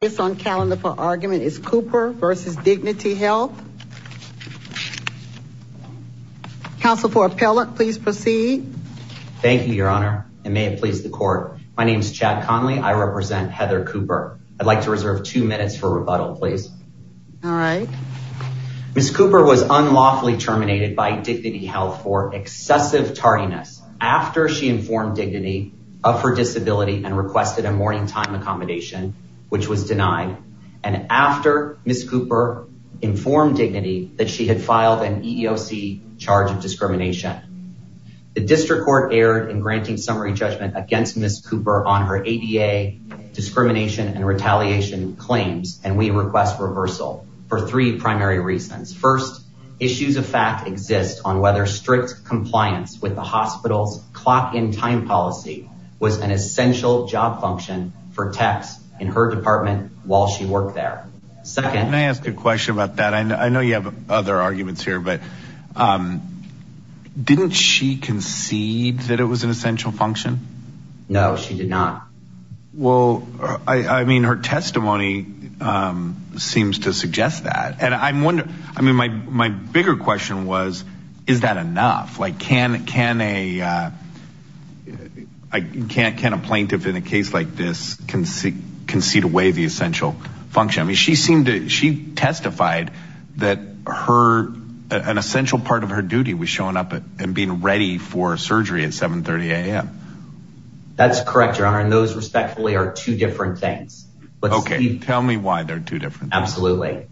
This on calendar for argument is Cooper v. Dignity Health. Counsel for appellate, please proceed. Thank you, Your Honor, and may it please the court. My name is Chad Conley. I represent Heather Cooper. I'd like to reserve two minutes for rebuttal, please. All right. Ms. Cooper was unlawfully terminated by Dignity Health for excessive tardiness after she informed Dignity of her disability and requested a morning time accommodation, which was denied, and after Ms. Cooper informed Dignity that she had filed an EEOC charge of discrimination. The district court erred in granting summary judgment against Ms. Cooper on her ADA discrimination and retaliation claims, and we request reversal for three primary reasons. First, issues of fact exist on whether strict compliance with the hospital's clock-in time policy was an essential job function for techs in her department while she worked there. Second. Can I ask a question about that? I know you have other arguments here, but didn't she concede that it was an essential function? No, she did not. Well, I mean, her testimony seems to suggest that, and I'm wondering, I mean, my bigger question was, is that enough? Like, can a plaintiff in a case like this concede away the essential function? I mean, she testified that an essential part of her duty was showing up and being ready for surgery at 7.30 a.m. That's correct, Your Honor, and those, respectfully, are two different things. Okay, tell me why they're two different things. Absolutely.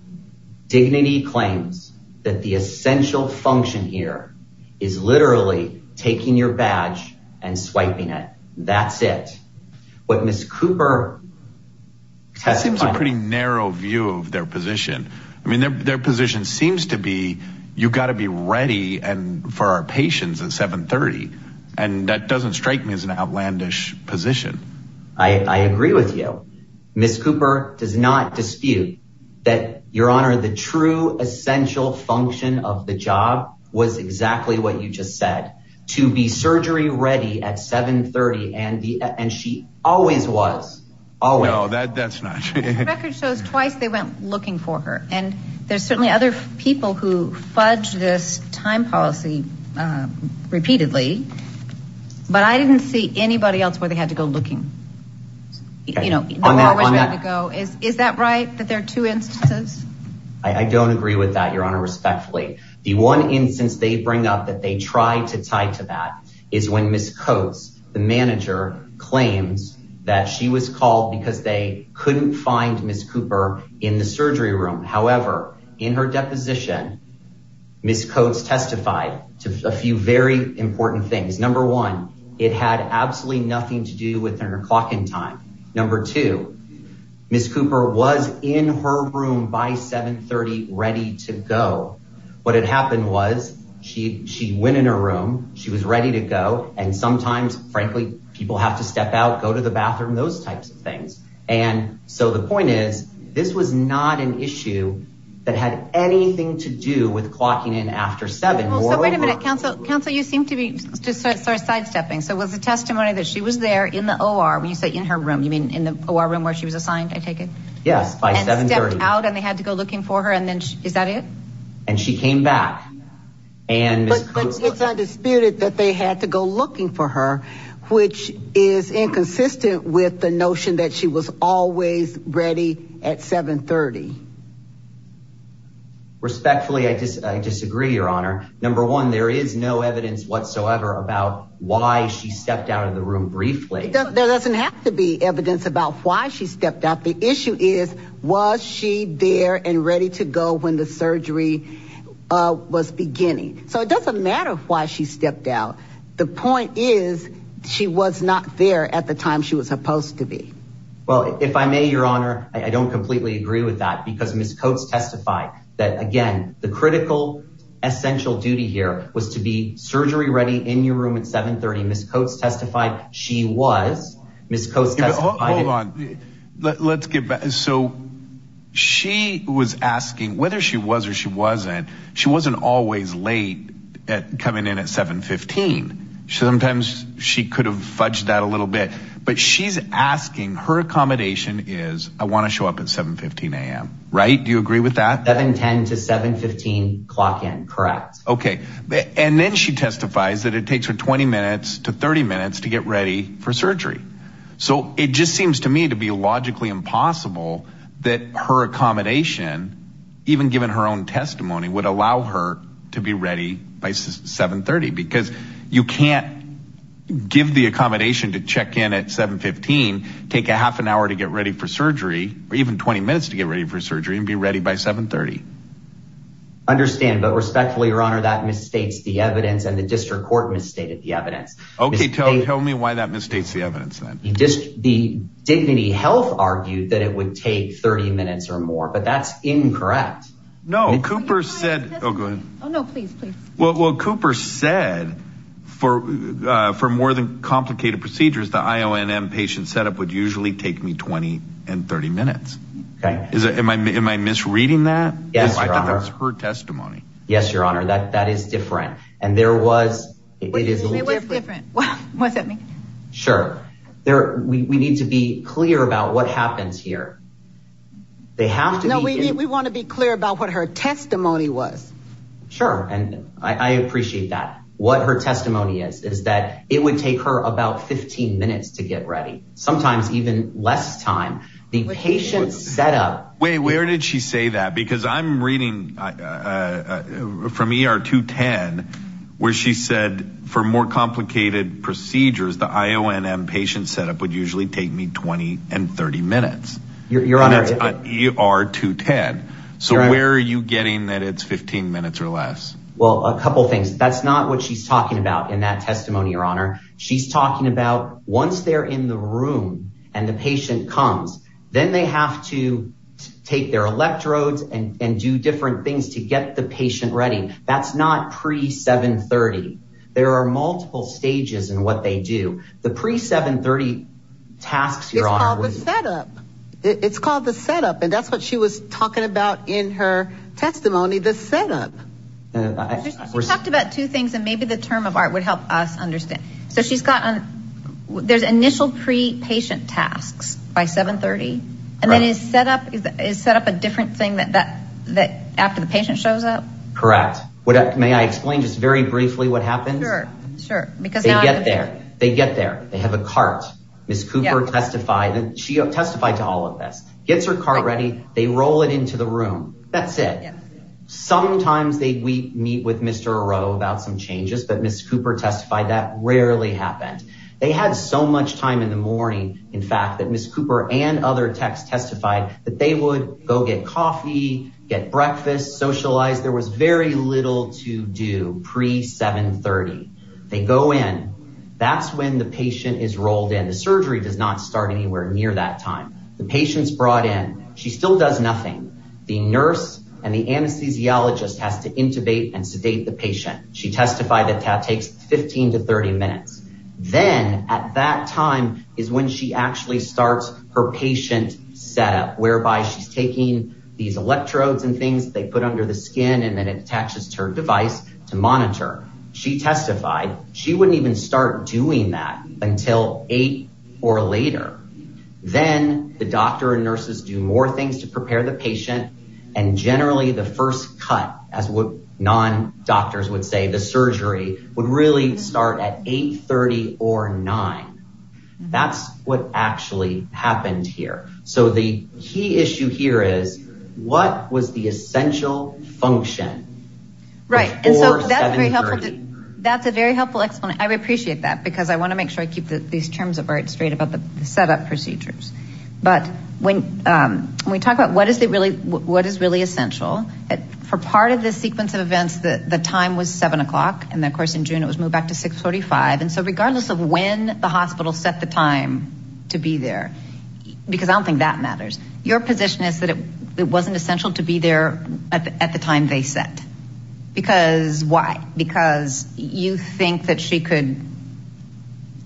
Dignity claims that the essential function here is literally taking your badge and swiping it. That's it. What Ms. Cooper testified... That seems a pretty narrow view of their position. I mean, their position seems to be, you've got to be ready and for our patients at 7.30, and that doesn't strike me as an outlandish position. I agree with you. Ms. Cooper does not dispute that, Your Honor, the true essential function of the job was exactly what you just said, to be surgery ready at 7.30, and she always was, always. No, that's not true. The record shows twice they went looking for her, and there's certainly other people who fudge this time policy repeatedly, but I didn't see anybody else where they had to go looking. You know, they were always ready to go. Is that right, that there are two instances? I don't agree with that, Your Honor, respectfully. The one instance they bring up that they tried to tie to that is when Ms. Coates, the manager, claims that she was called because they couldn't find Ms. Cooper in the surgery room. However, in her deposition, Ms. Coates testified to a few very important things. Number one, it had absolutely nothing to do with her clocking time. Number two, Ms. Cooper was in her room by 7.30 ready to go. What had happened was, she went in her room, she was ready to go, and sometimes, frankly, people have to step out, go to the bathroom, those types of things. And so the point is, this was not an issue that had anything to do with clocking in after 7. So wait a minute, Counsel, you seem to be sidestepping, so it was a testimony that she was there in the OR, when you say in her room, you mean in the OR room where she was assigned, I take it? Yes, by 7.30. And stepped out, and they had to go looking for her, and then, is that it? And she came back, and Ms. Cooper- But it's undisputed that they had to go looking for her, which is inconsistent with the notion that she was always ready at 7.30. Respectfully, I disagree, Your Honor. Number one, there is no evidence whatsoever about why she stepped out of the room briefly. There doesn't have to be evidence about why she stepped out. The issue is, was she there and ready to go when the surgery was beginning? So it doesn't matter why she stepped out. The point is, she was not there at the time she was supposed to be. Well, if I may, Your Honor, I don't completely agree with that, because Ms. Coates testified that, again, the critical, essential duty here was to be surgery-ready in your room at 7.30. Ms. Coates testified she was. Ms. Coates testified- Hold on. Let's get back. So she was asking, whether she was or she wasn't, she wasn't always late at coming in at 7.15. So sometimes, she could have fudged that a little bit. But she's asking, her accommodation is, I want to show up at 7.15 a.m., right? Do you agree with that? 7.10 to 7.15, clock in. Correct. Okay. And then she testifies that it takes her 20 minutes to 30 minutes to get ready for surgery. So it just seems to me to be logically impossible that her accommodation, even given her own testimony, would allow her to be ready by 7.30. Because you can't give the accommodation to check in at 7.15, take a half an hour to get ready for surgery, or even 20 minutes to get ready for surgery, and be ready by 7.30. Understand, but respectfully, your honor, that misstates the evidence, and the district court misstated the evidence. Okay, tell me why that misstates the evidence, then. The Dignity Health argued that it would take 30 minutes or more, but that's incorrect. No. Cooper said- Oh, go ahead. Oh, no. Please, please. Well, Cooper said, for more than complicated procedures, the IONM patient setup would usually take me 20 and 30 minutes. Okay. Am I misreading that? Yes, your honor. I thought that was her testimony. Yes, your honor. That is different. And there was- It was different. Was it? Sure. We need to be clear about what happens here. They have to be- No, we want to be clear about what her testimony was. Sure. And I appreciate that. What her testimony is, is that it would take her about 15 minutes to get ready. Sometimes even less time. The patient setup- Wait, where did she say that? Because I'm reading from ER 210, where she said, for more complicated procedures, the IONM patient setup would usually take me 20 and 30 minutes. Your honor- And it's on ER 210. Your honor- So where are you getting that it's 15 minutes or less? Well, a couple things. That's not what she's talking about in that testimony, your honor. She's talking about once they're in the room and the patient comes, then they have to take their electrodes and do different things to get the patient ready. That's not pre-730. There are multiple stages in what they do. The pre-730 tasks, your honor- It's called the setup. It's called the setup. And that's what she was talking about in her testimony, the setup. She talked about two things, and maybe the term of art would help us understand. So she's got, there's initial pre-patient tasks by 730, and then is setup a different thing that after the patient shows up? Correct. May I explain just very briefly what happens? Sure. Sure. Because- They get there. They get there. They have a cart. Ms. Cooper testified. She testified to all of this. Gets her cart ready. They roll it into the room. That's it. Sometimes they meet with Mr. O'Rourke about some changes, but Ms. Cooper testified that rarely happened. They had so much time in the morning, in fact, that Ms. Cooper and other techs testified that they would go get coffee, get breakfast, socialize. There was very little to do pre-730. They go in. That's when the patient is rolled in. The surgery does not start anywhere near that time. The patient's brought in. She still does nothing. The nurse and the anesthesiologist has to intubate and sedate the patient. She testified that that takes 15 to 30 minutes. Then at that time is when she actually starts her patient setup, whereby she's taking these electrodes and things they put under the skin and then it attaches to her device to monitor. She testified she wouldn't even start doing that until eight or later. Then the doctor and nurses do more things to prepare the patient and generally the first cut, as what non-doctors would say, the surgery, would really start at 830 or 9. That's what actually happened here. So the key issue here is what was the essential function before 730? That's a very helpful explanation. I appreciate that because I want to make sure I keep these terms of art straight about the setup procedures. But when we talk about what is really essential, for part of the sequence of events, the time was 7 o'clock and of course in June it was moved back to 6.45. So regardless of when the hospital set the time to be there, because I don't think that matters, your position is that it wasn't essential to be there at the time they set. Because why? Because you think that she could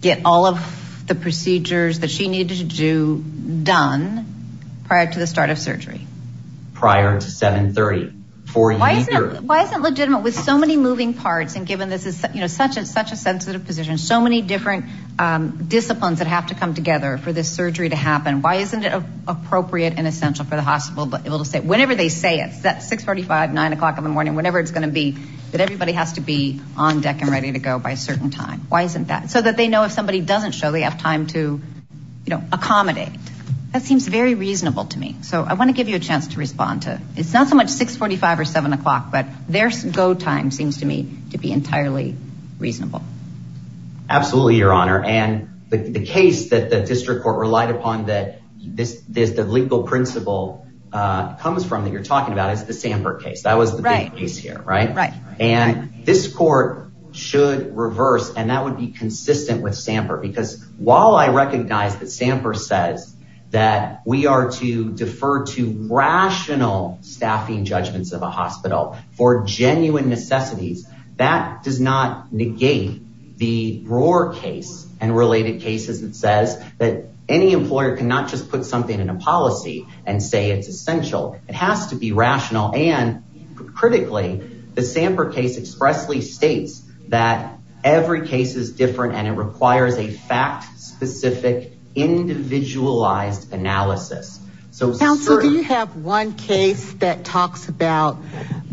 get all of the procedures that she needed to do done prior to the start of surgery. Prior to 730. Why is it legitimate with so many moving parts and given this is such a sensitive position, so many different disciplines that have to come together for this surgery to happen, why isn't it appropriate and essential for the hospital to be able to say, whenever they say it, that 6.45, 9 o'clock in the morning, whenever it's going to be, that everybody has to be on deck and ready to go by a certain time. Why isn't that? So that they know if somebody doesn't show, they have time to accommodate. That seems very reasonable to me. So I want to give you a chance to respond to, it's not so much 6.45 or 7 o'clock, but their go time seems to me to be entirely reasonable. Absolutely your honor. And the case that the district court relied upon that this legal principle comes from that you're talking about is the Sanford case. That was the big case here, right? And this court should reverse and that would be consistent with Sanford because while I recognize that Sanford says that we are to defer to rational staffing judgments of a hospital for genuine necessities, that does not negate the Roar case and related cases that says that any employer can not just put something in a policy and say it's essential. It has to be rational and critically, the Sanford case expressly states that every case is different and it requires a fact specific individualized analysis. So do you have one case that talks about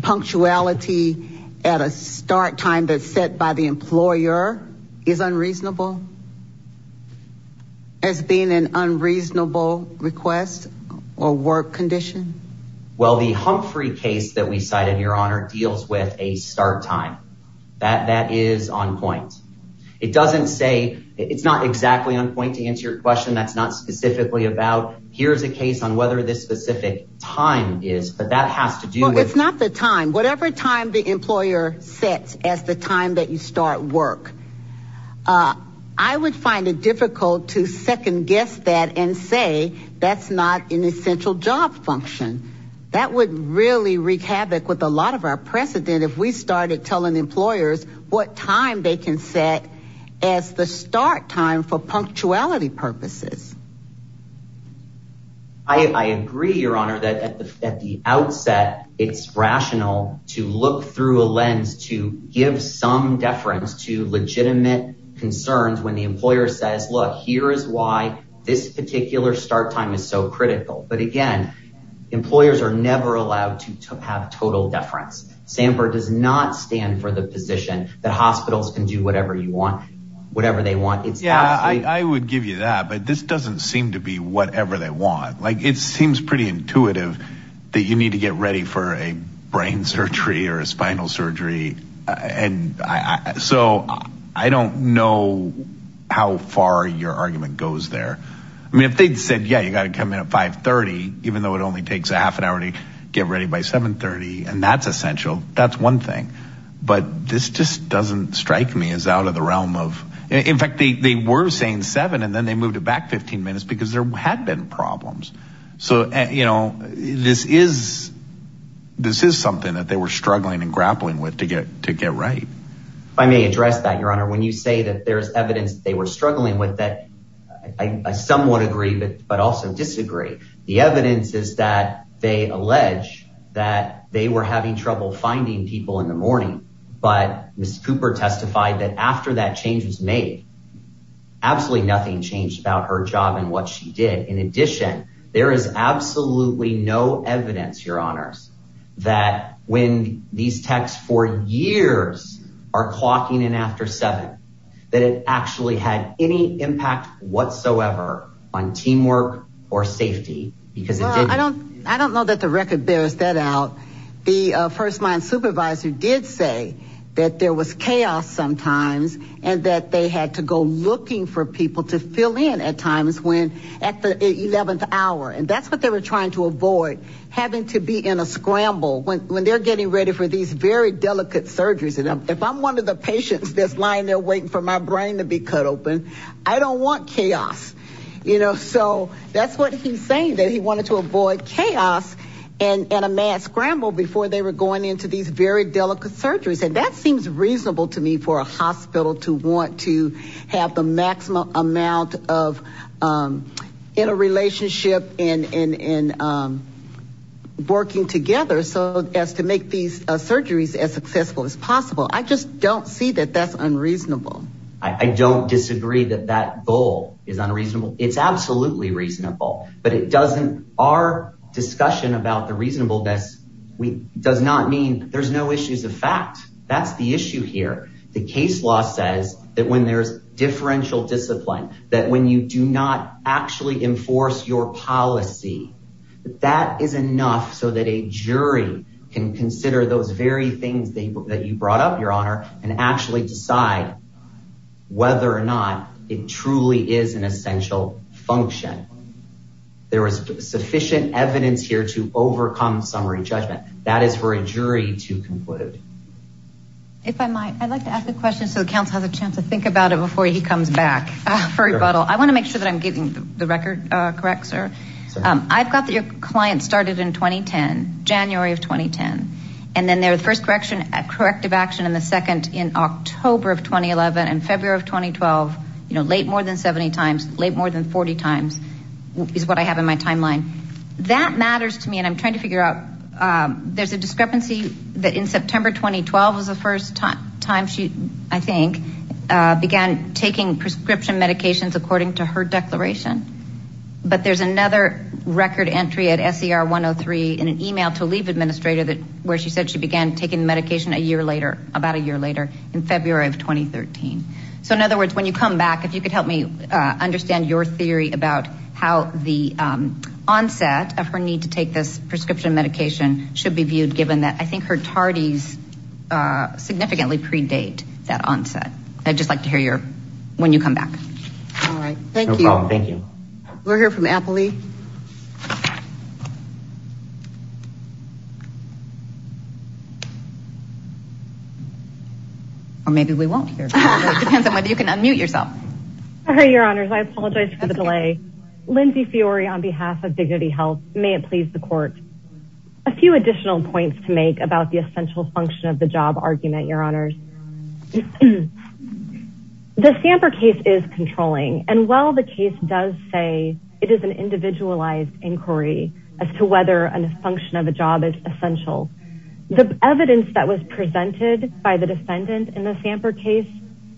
punctuality at a start time that's set by the employer is unreasonable as being an unreasonable request or work condition? Well the Humphrey case that we cited your honor deals with a start time that that is on point. It doesn't say it's not exactly on point to answer your question. That's not specifically about here's a case on whether this specific time is, but that has to do with. It's not the time. Whatever time the employer sets as the time that you start work. I would find it difficult to second guess that and say that's not an essential job function that would really wreak havoc with a lot of our precedent. If we started telling employers what time they can set as the start time for punctuality purposes. I agree your honor that at the outset, it's rational to look through a lens to give some deference to legitimate concerns when the employer says, look, here is why this particular start time is so critical. But again, employers are never allowed to have total deference. Sanford does not stand for the position that hospitals can do whatever you want, whatever they want. I would give you that, but this doesn't seem to be whatever they want. Like it seems pretty intuitive that you need to get ready for a brain surgery or a spinal surgery and so I don't know how far your argument goes there. I mean, if they'd said, yeah, you got to come in at 530, even though it only takes a half an hour to get ready by 730 and that's essential. That's one thing. But this just doesn't strike me as out of the realm of. In fact, they were saying seven and then they moved it back 15 minutes because there had been problems. So this is something that they were struggling and grappling with to get right. I may address that, your honor. When you say that there's evidence they were struggling with that, I somewhat agree, but also disagree. The evidence is that they allege that they were having trouble finding people in the morning. But Miss Cooper testified that after that change was made, absolutely nothing changed about her job and what she did. In addition, there is absolutely no evidence, your honors, that when these texts for years are clocking in after seven, that it actually had any impact whatsoever on teamwork or safety because I don't, I don't know that the record bears that out. The first line supervisor did say that there was chaos sometimes and that they had to go looking for people to fill in at times when at the 11th hour and that's what they were trying to avoid having to be in a scramble when they're getting ready for these very delicate surgeries. And if I'm one of the patients that's lying there waiting for my brain to be cut open, I don't want chaos, you know? So that's what he's saying that he wanted to avoid chaos and, and a mad scramble before they were going into these very delicate surgeries. And that seems reasonable to me for a hospital to want to have the maximum amount of, um, in a relationship and, and, and, um, working together so as to make these surgeries as successful as possible. I just don't see that that's unreasonable. I don't disagree that that goal is unreasonable. It's absolutely reasonable, but it doesn't, our discussion about the reasonableness, we does not mean there's no issues of fact, that's the issue here. The case law says that when there's differential discipline, that when you do not actually enforce your policy, that that is enough so that a jury can consider those very things that you brought up your honor and actually decide whether or not it truly is an essential function. There was sufficient evidence here to overcome summary judgment. That is for a jury to conclude. If I might, I'd like to ask a question so the council has a chance to think about it before he comes back for rebuttal. I want to make sure that I'm getting the record correct, sir. I've got that your client started in 2010, January of 2010, and then their first correction at corrective action in the second in October of 2011 and February of 2012, you know, late more than 70 times late, more than 40 times is what I have in my timeline that matters to me. And I'm trying to figure out there's a discrepancy that in September, 2012 was the first time she I think began taking prescription medications according to her declaration. But there's another record entry at SCR 103 in an email to leave administrator that where she said she began taking medication a year later, about a year later in February of 2013. So in other words, when you come back, if you could help me understand your theory about how the onset of her need to take this prescription medication should be viewed, given that I think her tardies significantly predate that onset, I'd just like to hear your when you come back. All right. Thank you. Thank you. We're here from Appley. Or maybe we won't hear depends on whether you can unmute yourself. Sorry, your honors. I apologize for the delay. Lindsay Fiori on behalf of Dignity Health. May it please the court. A few additional points to make about the essential function of the job argument, your honors. The Samper case is controlling. And while the case does say it is an individualized inquiry as to whether a function of a job is essential, the evidence that was presented by the defendant in the Samper case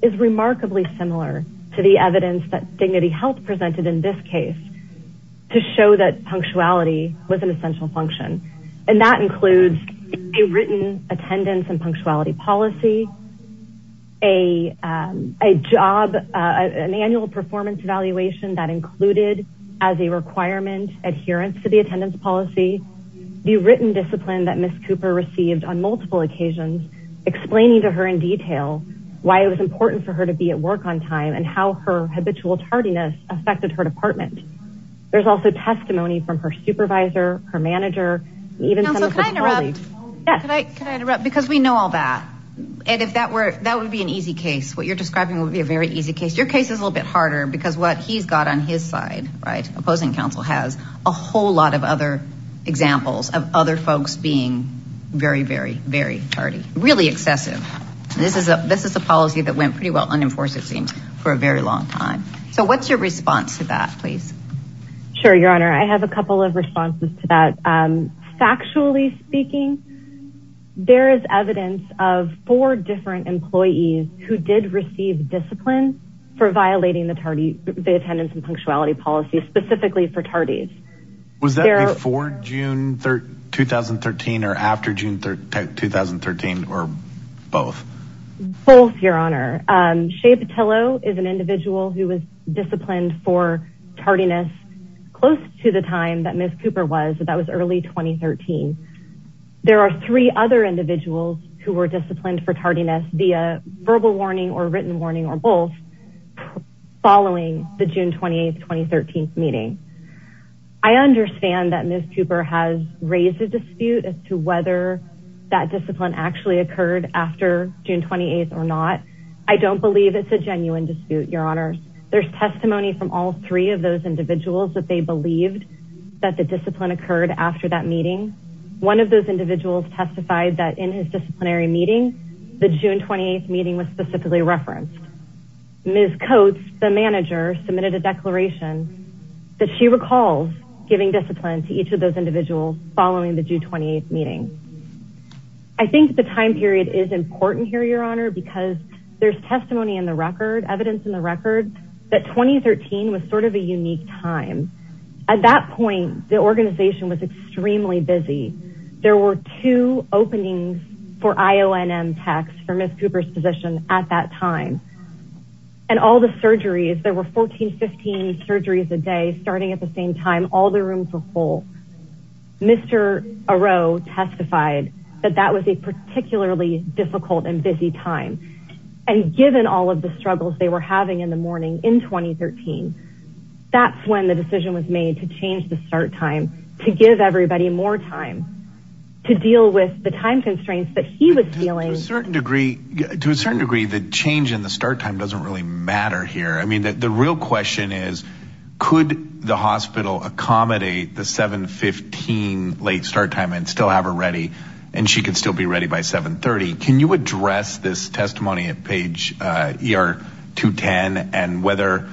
is remarkably similar to the evidence that Dignity Health presented in this case to show that punctuality was an essential function. And that includes a written attendance and punctuality policy, a job, an annual performance evaluation that included as a requirement adherence to the attendance policy, the written discipline that Ms. Cooper received on multiple occasions explaining to her in detail why it was important for her to be at work on time and how her habitual tardiness affected her department. There's also testimony from her supervisor, her manager, even some of her colleagues. Counsel, can I interrupt? Yes. Can I interrupt? Because we know all that. And if that were, that would be an easy case. What you're describing would be a very easy case. Your case is a little bit harder because what he's got on his side, right, opposing counsel has a whole lot of other examples of other folks being very, very, very tardy, really excessive. And this is a, this is a policy that went pretty well unenforced it seems for a very long time. So what's your response to that, please? Sure. Your Honor. I have a couple of responses to that. Factually speaking, there is evidence of four different employees who did receive discipline for violating the tardy, the attendance and punctuality policy specifically for tardies. Was that before June 2013 or after June 2013 or both? Both. Your Honor. Shea Petillo is an individual who was disciplined for tardiness close to the time that Ms. Cooper was, that was early 2013. There are three other individuals who were disciplined for tardiness via verbal warning or written warning or both following the June 28th, 2013 meeting. I understand that Ms. Cooper has raised a dispute as to whether that discipline actually occurred after June 28th or not. I don't believe it's a genuine dispute, Your Honor. There's testimony from all three of those individuals that they believed that the discipline occurred after that meeting. One of those individuals testified that in his disciplinary meeting, the June 28th meeting was specifically referenced. Ms. Coates, the manager submitted a declaration that she recalls giving discipline to each of those individuals following the June 28th meeting. I think the time period is important here, Your Honor, because there's testimony in the record, evidence in the record that 2013 was sort of a unique time. At that point, the organization was extremely busy. There were two openings for IONM techs for Ms. Cooper's position at that time. And all the surgeries, there were 14, 15 surgeries a day starting at the same time, all the rooms were full. Mr. Aroe testified that that was a particularly difficult and busy time. And given all of the struggles they were having in the morning in 2013, that's when the decision was made to change the start time, to give everybody more time, to deal with the time constraints that he was feeling. To a certain degree, to a certain degree, the change in the start time doesn't really matter here. I mean, the real question is, could the hospital accommodate the 7.15 late start time and still have her ready, and she could still be ready by 7.30? Can you address this testimony at page ER 210, and whether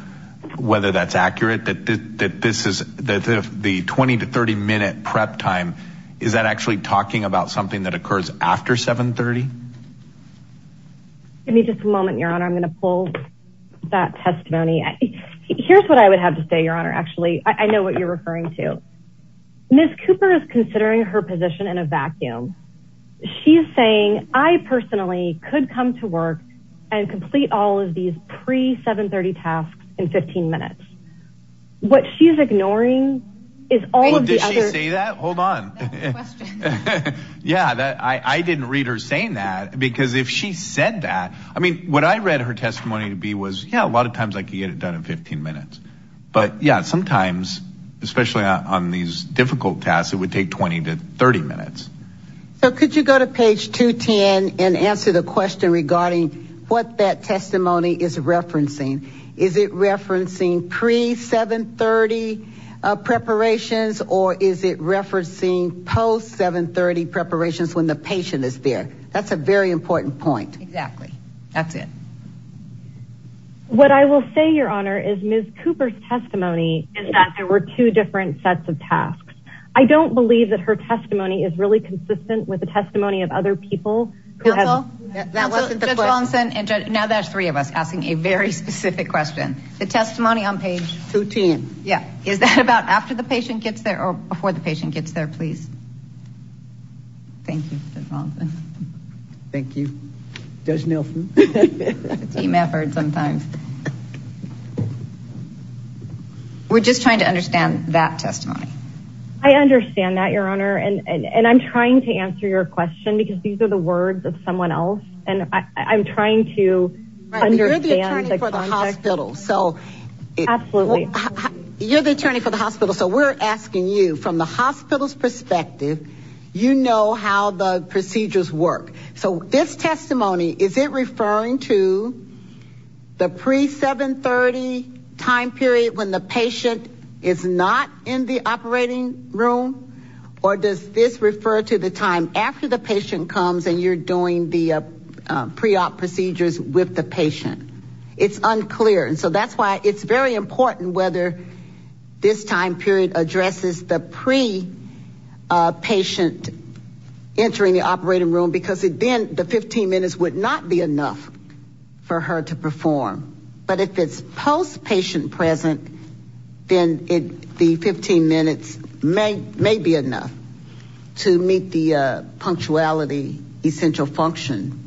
that's accurate, that this is the 20 to 30 minute prep time, is that actually talking about something that occurs after 7.30? Give me just a moment, Your Honor. I'm going to pull that testimony. Here's what I would have to say, Your Honor, actually. I know what you're referring to. Ms. Cooper is considering her position in a vacuum. She's saying, I personally could come to work and complete all of these pre-7.30 tasks in 15 minutes. What she's ignoring is all of the other- Did she say that? Hold on. That's the question. Yeah, I didn't read her saying that, because if she said that... I mean, what I read her testimony to be was, yeah, a lot of times I could get it done in 15 minutes. But yeah, sometimes, especially on these difficult tasks, it would take 20 to 30 minutes. So could you go to page 210 and answer the question regarding what that testimony is referencing? Is it referencing pre-7.30 preparations, or is it referencing post-7.30 preparations when the patient is there? That's a very important point. Exactly. That's it. What I will say, Your Honor, is Ms. Cooper's testimony is that there were two different sets of tasks. I don't believe that her testimony is really consistent with the testimony of other people who have- Counsel? That wasn't the question. Judge Longson, and now there's three of us asking a very specific question. The testimony on page- 210. Yeah. Is that about after the patient gets there or before the patient gets there, please? Thank you, Judge Longson. Thank you, Judge Nelson. Team effort sometimes. We're just trying to understand that testimony. I understand that, Your Honor. And I'm trying to answer your question because these are the words of someone else. And I'm trying to understand the context. You're the attorney for the hospital, so- Absolutely. You're the attorney for the hospital, so we're asking you, from the hospital's perspective, you know how the procedures work. So this testimony, is it referring to the pre-730 time period when the patient is not in the operating room? Or does this refer to the time after the patient comes and you're doing the pre-op procedures with the patient? It's unclear. And so that's why it's very important whether this time period addresses the pre-patient entering the operating room because then the 15 minutes would not be enough for her to perform. But if it's post-patient present, then the 15 minutes may be enough to meet the punctuality essential function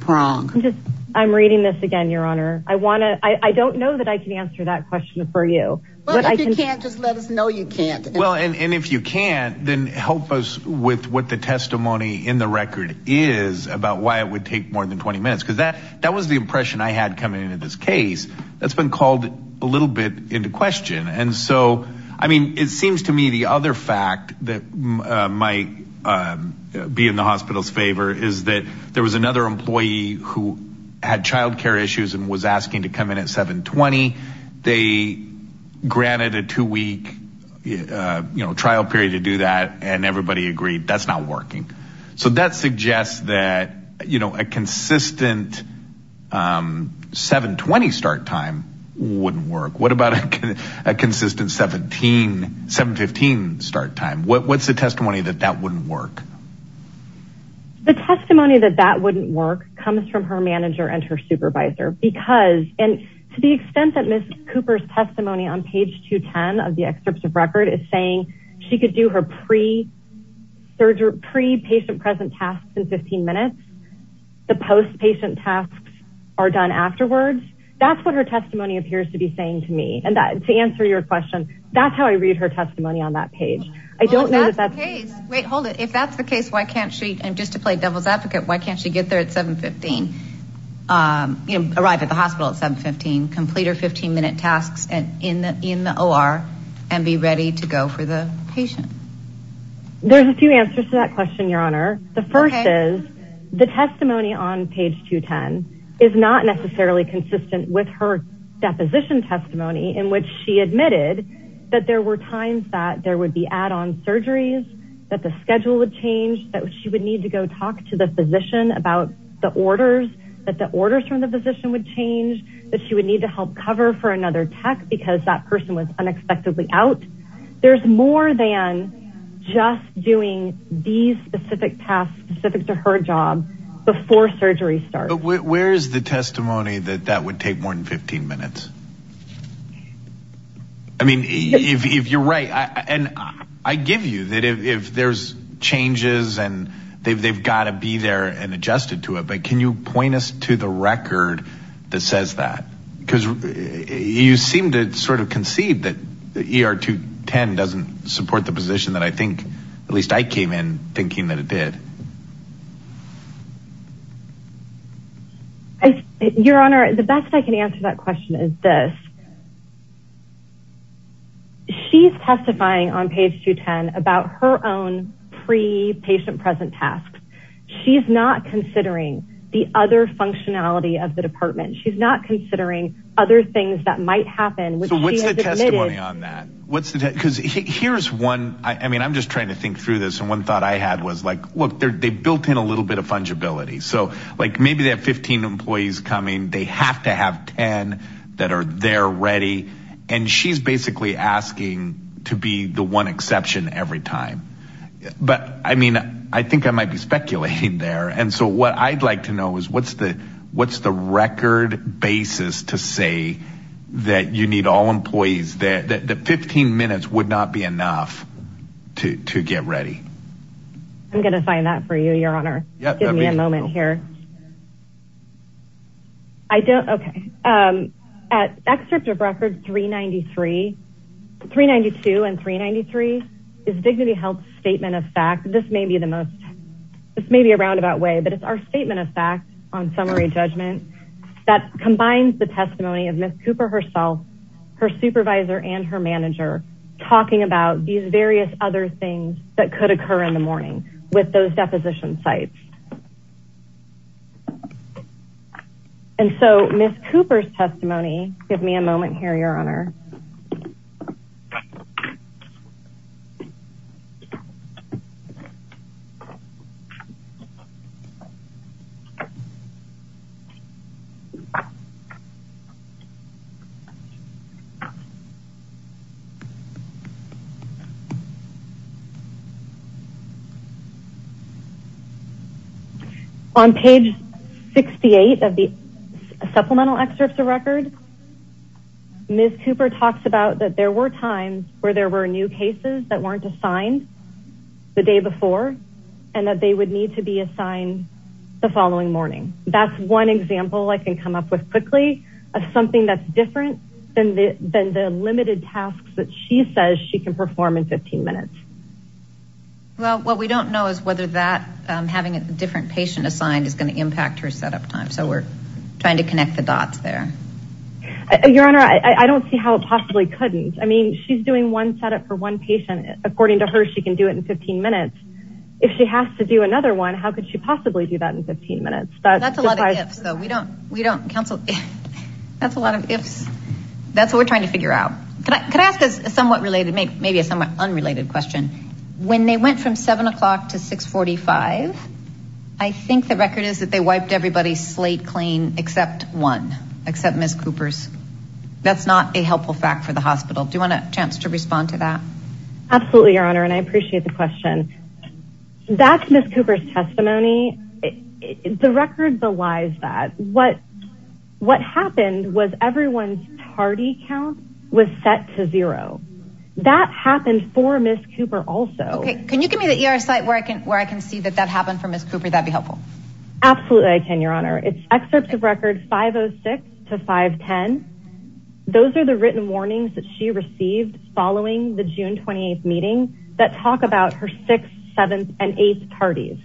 prong. I'm reading this again, Your Honor. I don't know that I can answer that question for you. Well, if you can't, just let us know you can't. Well, and if you can't, then help us with what the testimony in the record is about why it would take more than 20 minutes. Because that was the impression I had coming into this case that's been called a little bit into question. And so, I mean, it seems to me the other fact that might be in the hospital's favor is that there was another employee who had child care issues and was asking to come in at 720. They granted a two-week trial period to do that, and everybody agreed that's not working. So that suggests that a consistent 720 start time wouldn't work. What about a consistent 715 start time? What's the testimony that that wouldn't work? The testimony that that wouldn't work comes from her manager and her supervisor. Because, and to the extent that Ms. Cooper's testimony on page 210 of the excerpts of record is saying she could do her pre-patient present tasks in 15 minutes, the post-patient tasks are done afterwards, that's what her testimony appears to be saying to me. And to answer your question, that's how I read her testimony on that page. Well, if that's the case, wait, hold it. If that's the case, why can't she, and just to play devil's advocate, why can't she get there at 715, arrive at the hospital at 715, complete her 15-minute tasks in the OR, and be ready to go for the patient? There's a few answers to that question, Your Honor. The first is, the testimony on page 210 is not necessarily consistent with her deposition testimony in which she admitted that there were times that there would be add-on surgeries, that the schedule would change, that she would need to go talk to the physician about the orders, that the orders from the physician would change, that she would need to help cover for another tech because that person was unexpectedly out. There's more than just doing these specific tasks specific to her job before surgery starts. But where is the testimony that that would take more than 15 minutes? I mean, if you're right, and I give you that if there's changes and they've got to be there and adjusted to it, but can you point us to the record that says that? Because you seem to sort of conceive that ER 210 doesn't support the position that I came in thinking that it did. Your Honor, the best I can answer that question is this. She's testifying on page 210 about her own pre-patient present tasks. She's not considering the other functionality of the department. She's not considering other things that might happen. So what's the testimony on that? Because here's one, I mean, I'm just trying to think through this. And one thought I had was like, look, they built in a little bit of fungibility. So like maybe they have 15 employees coming. They have to have 10 that are there ready. And she's basically asking to be the one exception every time. But I mean, I think I might be speculating there. And so what I'd like to know is what's the what's the record basis to say that you need all employees that 15 minutes would not be enough to get ready. I'm going to find that for you, Your Honor. Give me a moment here. I don't. OK. At excerpt of record 393, 392 and 393 is dignity health statement of fact. This may be the most this may be a roundabout way, but it's our statement of fact on summary judgment that combines the testimony of Miss Cooper herself, her supervisor and her manager, talking about these various other things that could occur in the morning with those deposition sites. And so Miss Cooper's testimony. Give me a moment here, Your Honor. On page 68 of the supplemental excerpts of record. Miss Cooper talks about that. There were times where there were new cases that weren't assigned the day before and that they would need to be assigned the following morning. That's one example of that. Quickly, something that's different than the than the limited tasks that she says she can perform in 15 minutes. Well, what we don't know is whether that having a different patient assigned is going to impact her set up time. So we're trying to connect the dots there. Your Honor, I don't see how it possibly couldn't. I mean, she's doing one set up for one patient. According to her, she can do it in 15 minutes if she has to do another one. How could she possibly do that in 15 minutes? That's a lot. So we don't we don't counsel. That's a lot of ifs. That's what we're trying to figure out. Can I ask a somewhat related, maybe a somewhat unrelated question? When they went from 7 o'clock to 645, I think the record is that they wiped everybody's slate clean except one, except Miss Cooper's. That's not a helpful fact for the hospital. Do you want a chance to respond to that? And I appreciate the question. That's Miss Cooper's testimony. The record belies that. What what happened was everyone's party count was set to zero. That happened for Miss Cooper also. Can you give me the ER site where I can where I can see that that happened for Miss Cooper? That'd be helpful. Absolutely. I can, Your Honor. It's excerpts of record 506 to 510. Those are the written warnings that she received following the June 28th meeting that talk about her sixth, seventh and eighth parties.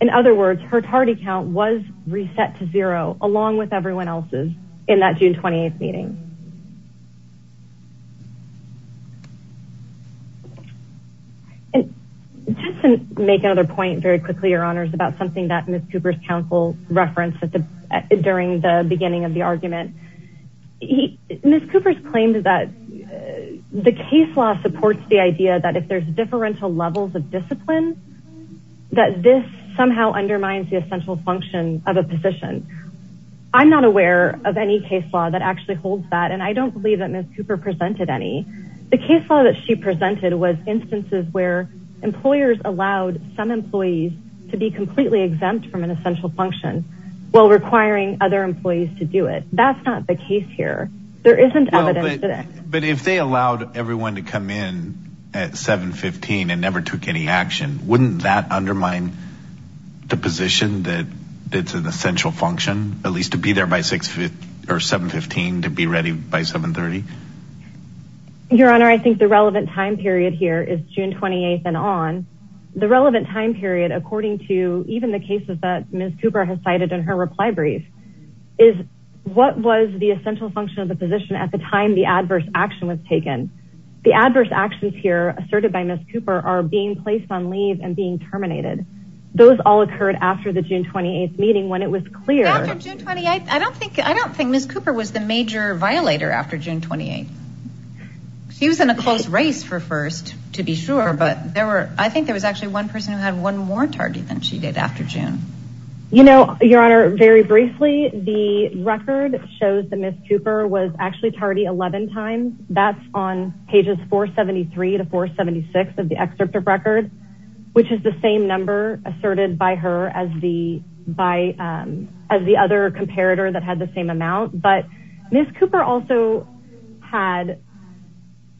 In other words, her party count was reset to zero along with everyone else's in that June 28th meeting. And just to make another point very quickly, Your Honors, about something that Miss Cooper's counsel referenced at the during the beginning of the argument. Miss Cooper's claimed that the case law supports the idea that if there's differential levels of discipline, that this somehow undermines the essential function of a position. I'm not aware of any case law that actually holds that. And I don't believe that Miss Cooper presented any. The case law that she presented was instances where employers allowed some employees to be completely exempt from an essential function while requiring other employees to do it. That's not the case here. There isn't evidence. But if they allowed everyone to come in at 715 and never took any action, wouldn't that undermine the position that it's an essential function at least to be there by six or 715 to be ready by 730? Your Honor, I think the relevant time period here is June 28th and on the relevant time period. According to even the cases that Miss Cooper has cited in her reply brief is what was the essential function of the position at the time the adverse action was taken. The adverse actions here asserted by Miss Cooper are being placed on leave and being terminated. Those all occurred after the June 28th meeting when it was clear. I don't think Miss Cooper was the major violator after June 28th. She was in a close race for first to be sure, but I think there was actually one person who had one more tardy than she did after June. Your Honor, very briefly, the record shows that Miss Cooper was actually tardy 11 times. That's on pages 473 to 476 of the excerpt of record, which is the same number asserted by her as the other comparator that had the same amount. But Miss Cooper also had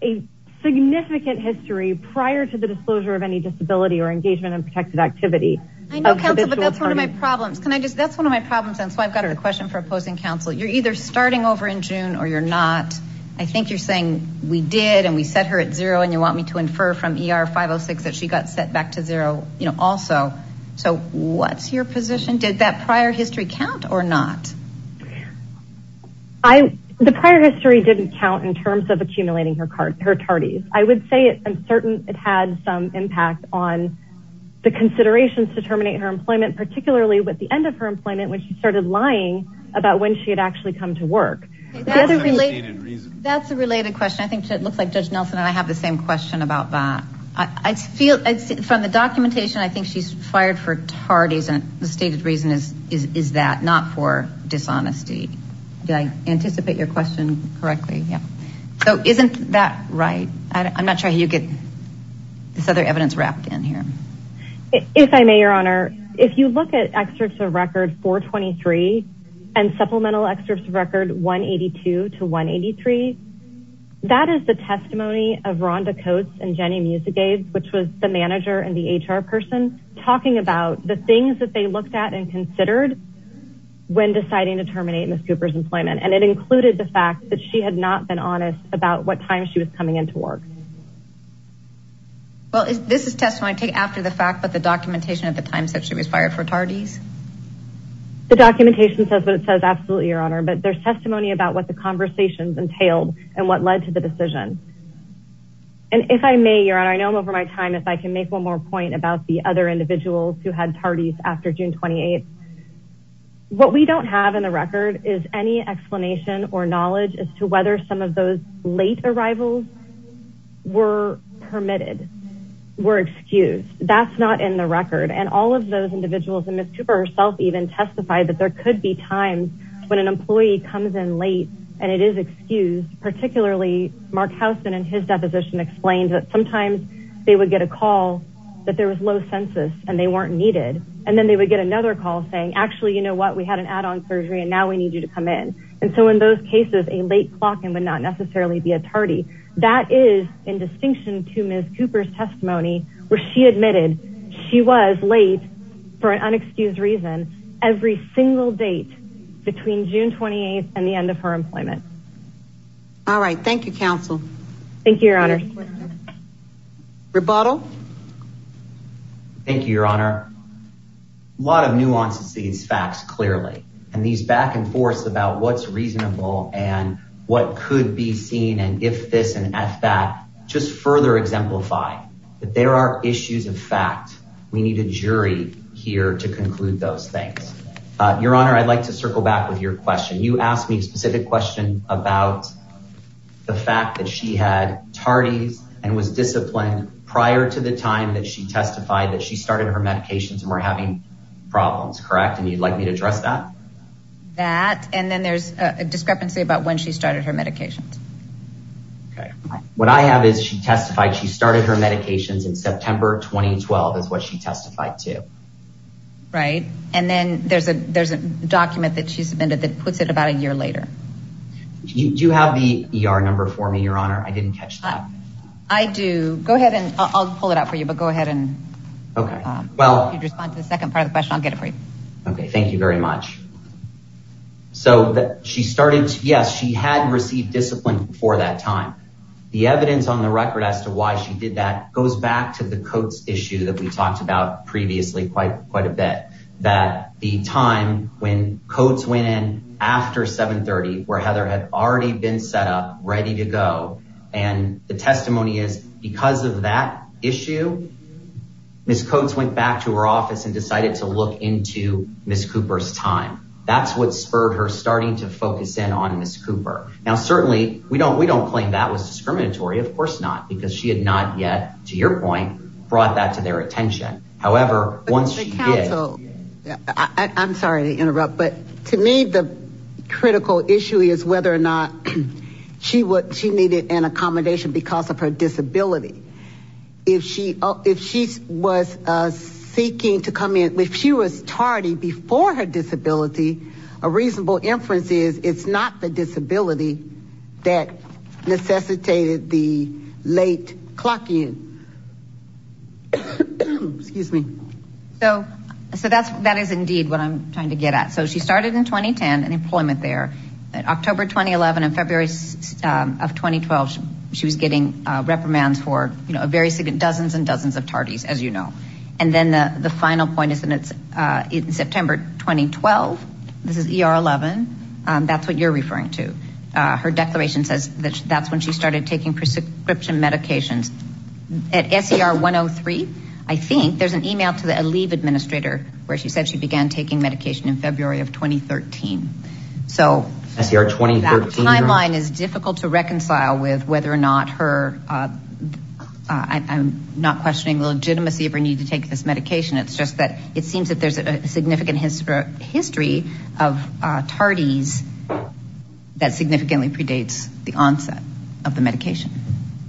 a significant history prior to the disclosure of any disability or engagement in protected activity. I know, counsel, but that's one of my problems. That's one of my problems and so I've got a question for opposing counsel. You're either starting over in June or you're not. I think you're saying we did and we set her at zero and you want me to infer from ER 506 that she got set back to zero also. So what's your position? Did that prior history count or not? The prior history didn't count in terms of accumulating her tardies. I would say I'm certain it had some impact on the considerations to terminate her employment, particularly with the end of her employment when she started lying about when she had actually come to work. That's a related question. I think it looks like Judge Nelson and I have the same question about that. From the documentation, I think she's fired for tardies and the stated reason is that, not for dishonesty. Did I anticipate your question correctly? So isn't that right? I'm not sure you get this other evidence wrapped in here. If I may, Your Honor, if you look at excerpts of record 423 and supplemental excerpts of record 182 to 183, that is the testimony of Rhonda Coates and Jenny Musagabe, which was the manager and the HR person, talking about the things that they looked at and considered when deciding to terminate Ms. Cooper's employment. And it included the fact that she had not been honest about what time she was coming into work. Well, this is testimony I take after the fact, but the documentation at the time said she was fired for tardies. The documentation says what it says, absolutely, Your Honor. But there's testimony about what the conversations entailed and what led to the decision. And if I may, Your Honor, I know I'm over my time, if I can make one more point about the other individuals who had tardies after June 28th. What we don't have in the record is any explanation or knowledge as to whether some of those late arrivals were permitted, were excused. That's not in the record. And all of those individuals, and Ms. Cooper herself even testified that there could be times when an employee comes in late and it is excused. Particularly, Mark Housman in his deposition explained that sometimes they would get a call that there was low census and they weren't needed. And then they would get another call saying, actually, you know what, we had an add-on surgery and now we need you to come in. And so in those cases, a late clock-in would not necessarily be a tardy. That is in distinction to Ms. Cooper's testimony where she admitted she was late for an unexcused reason every single date between June 28th and the end of her employment. All right. Thank you, Counsel. Thank you, Your Honor. Rebuttal. Thank you, Your Honor. A lot of nuances to these facts clearly. And these back and forths about what's reasonable and what could be seen and if this and at that, just further exemplify that there are issues of fact. We need a jury here to conclude those things. Your Honor, I'd like to circle back with your question. You asked me a specific question about the fact that she had tardies and was disciplined prior to the time that she testified that she started her medications and were having problems, correct? And you'd like me to address that? That and then there's a discrepancy about when she started her medications. Okay. What I have is she testified she started her medications in September 2012 is what she testified to. Right. And then there's a document that she submitted that puts it about a year later. Do you have the ER number for me, Your Honor? I didn't catch that. I do. Go ahead and I'll pull it out for you, but go ahead and respond to the second part of the question. I'll get it for you. Okay. Thank you very much. So she started, yes, she had received discipline before that time. The evidence on the record as to why she did that goes back to the Coates issue that we talked about previously quite a bit that the time when Coates went in after 730 where Heather had already been set up ready to go. And the testimony is because of that issue, Ms. Coates went back to her office and decided to look into Ms. Cooper's time. That's what spurred her starting to focus in on Ms. Cooper. Now, certainly we don't we don't claim that was discriminatory. Of course not. Because she had not yet, to your point, brought that to their attention. However, once I'm sorry to interrupt, but to me, the critical issue is whether or not she would she needed an accommodation because of her disability. If she if she was seeking to come in, if she was tardy before her disability, a reasonable inference is it's not the disability that necessitated the late clock. Excuse me. So so that's that is indeed what I'm trying to get at. So she started in 2010 and employment there. October 2011 and February of 2012. She was getting reprimands for a very significant dozens and dozens of tardies, as you know. And then the final point is that it's in September 2012. This is ER 11. That's what you're referring to. Her declaration says that that's when she started taking prescription medications. At S.E.R. 103, I think there's an email to the Aleve administrator where she said she began taking medication in February of 2013. So S.E.R. 2013. That timeline is difficult to reconcile with whether or not her I'm not questioning the legitimacy of her need to take this medication. It's just that it seems that there's a significant history of tardies that significantly predates the onset of the medication.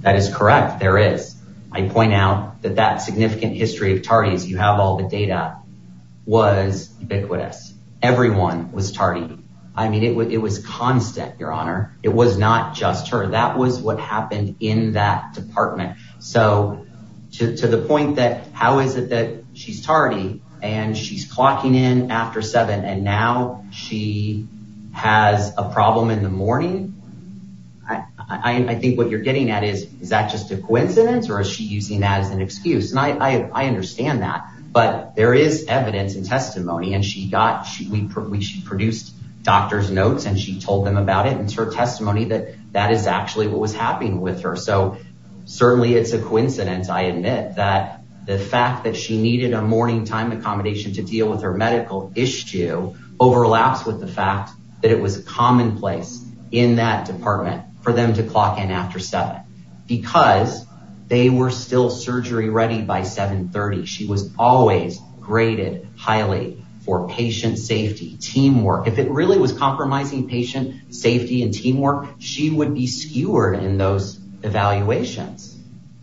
That is correct. There is. I point out that that significant history of tardies. You have all the data was ubiquitous. Everyone was tardy. I mean, it was constant, Your Honor. It was not just her. That was what happened in that department. So to the point that how is it that she's tardy and she's clocking in after seven and now she has a problem in the morning? I think what you're getting at is, is that just a coincidence or is she using that as an excuse? And I understand that. But there is evidence and testimony and she got we produced doctor's notes and she told them about it. And it's her testimony that that is actually what was happening with her. So certainly it's a coincidence. I admit that the fact that she needed a morning time accommodation to deal with her medical issue overlaps with the fact that it was commonplace in that department for them to clock in after seven because they were still surgery ready by 730. She was always graded highly for patient safety, teamwork. If it really was compromising patient safety and teamwork, she would be skewered in those evaluations.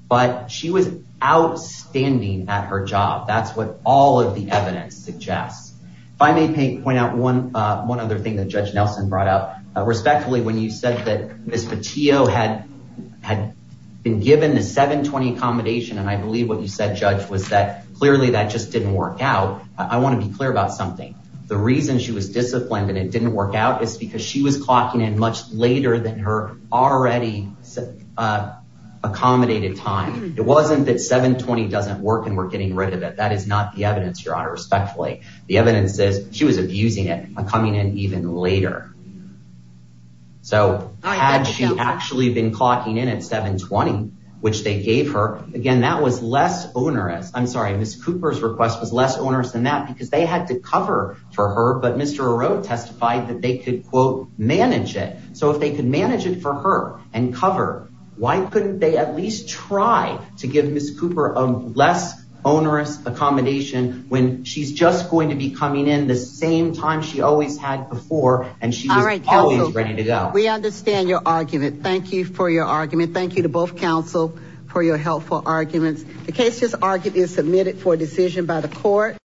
But she was outstanding at her job. That's what all of the evidence suggests. If I may point out one other thing that Judge Nelson brought up. Respectfully, when you said that Ms. Patillo had been given the 720 accommodation and I believe what you said, Judge, was that clearly that just didn't work out. I want to be clear about something. The reason she was disciplined and it didn't work out is because she was clocking in much later than her already accommodated time. It wasn't that 720 doesn't work and we're getting rid of it. That is not the evidence, Your Honor. Respectfully, the evidence says she was abusing it and coming in even later. So had she actually been clocking in at 720, which they gave her again, that was less onerous. I'm sorry, Ms. Cooper's request was less onerous than that because they had to cover for her. But Mr. O'Rourke testified that they could, quote, manage it. So if they could manage it for her and cover, why couldn't they at least try to give Ms. Cooper a less onerous accommodation when she's just going to be coming in the same time she always had before and she was always ready to go? We understand your argument. Thank you for your argument. Thank you to both counsel for your helpful arguments. The case is argued and submitted for decision by the court.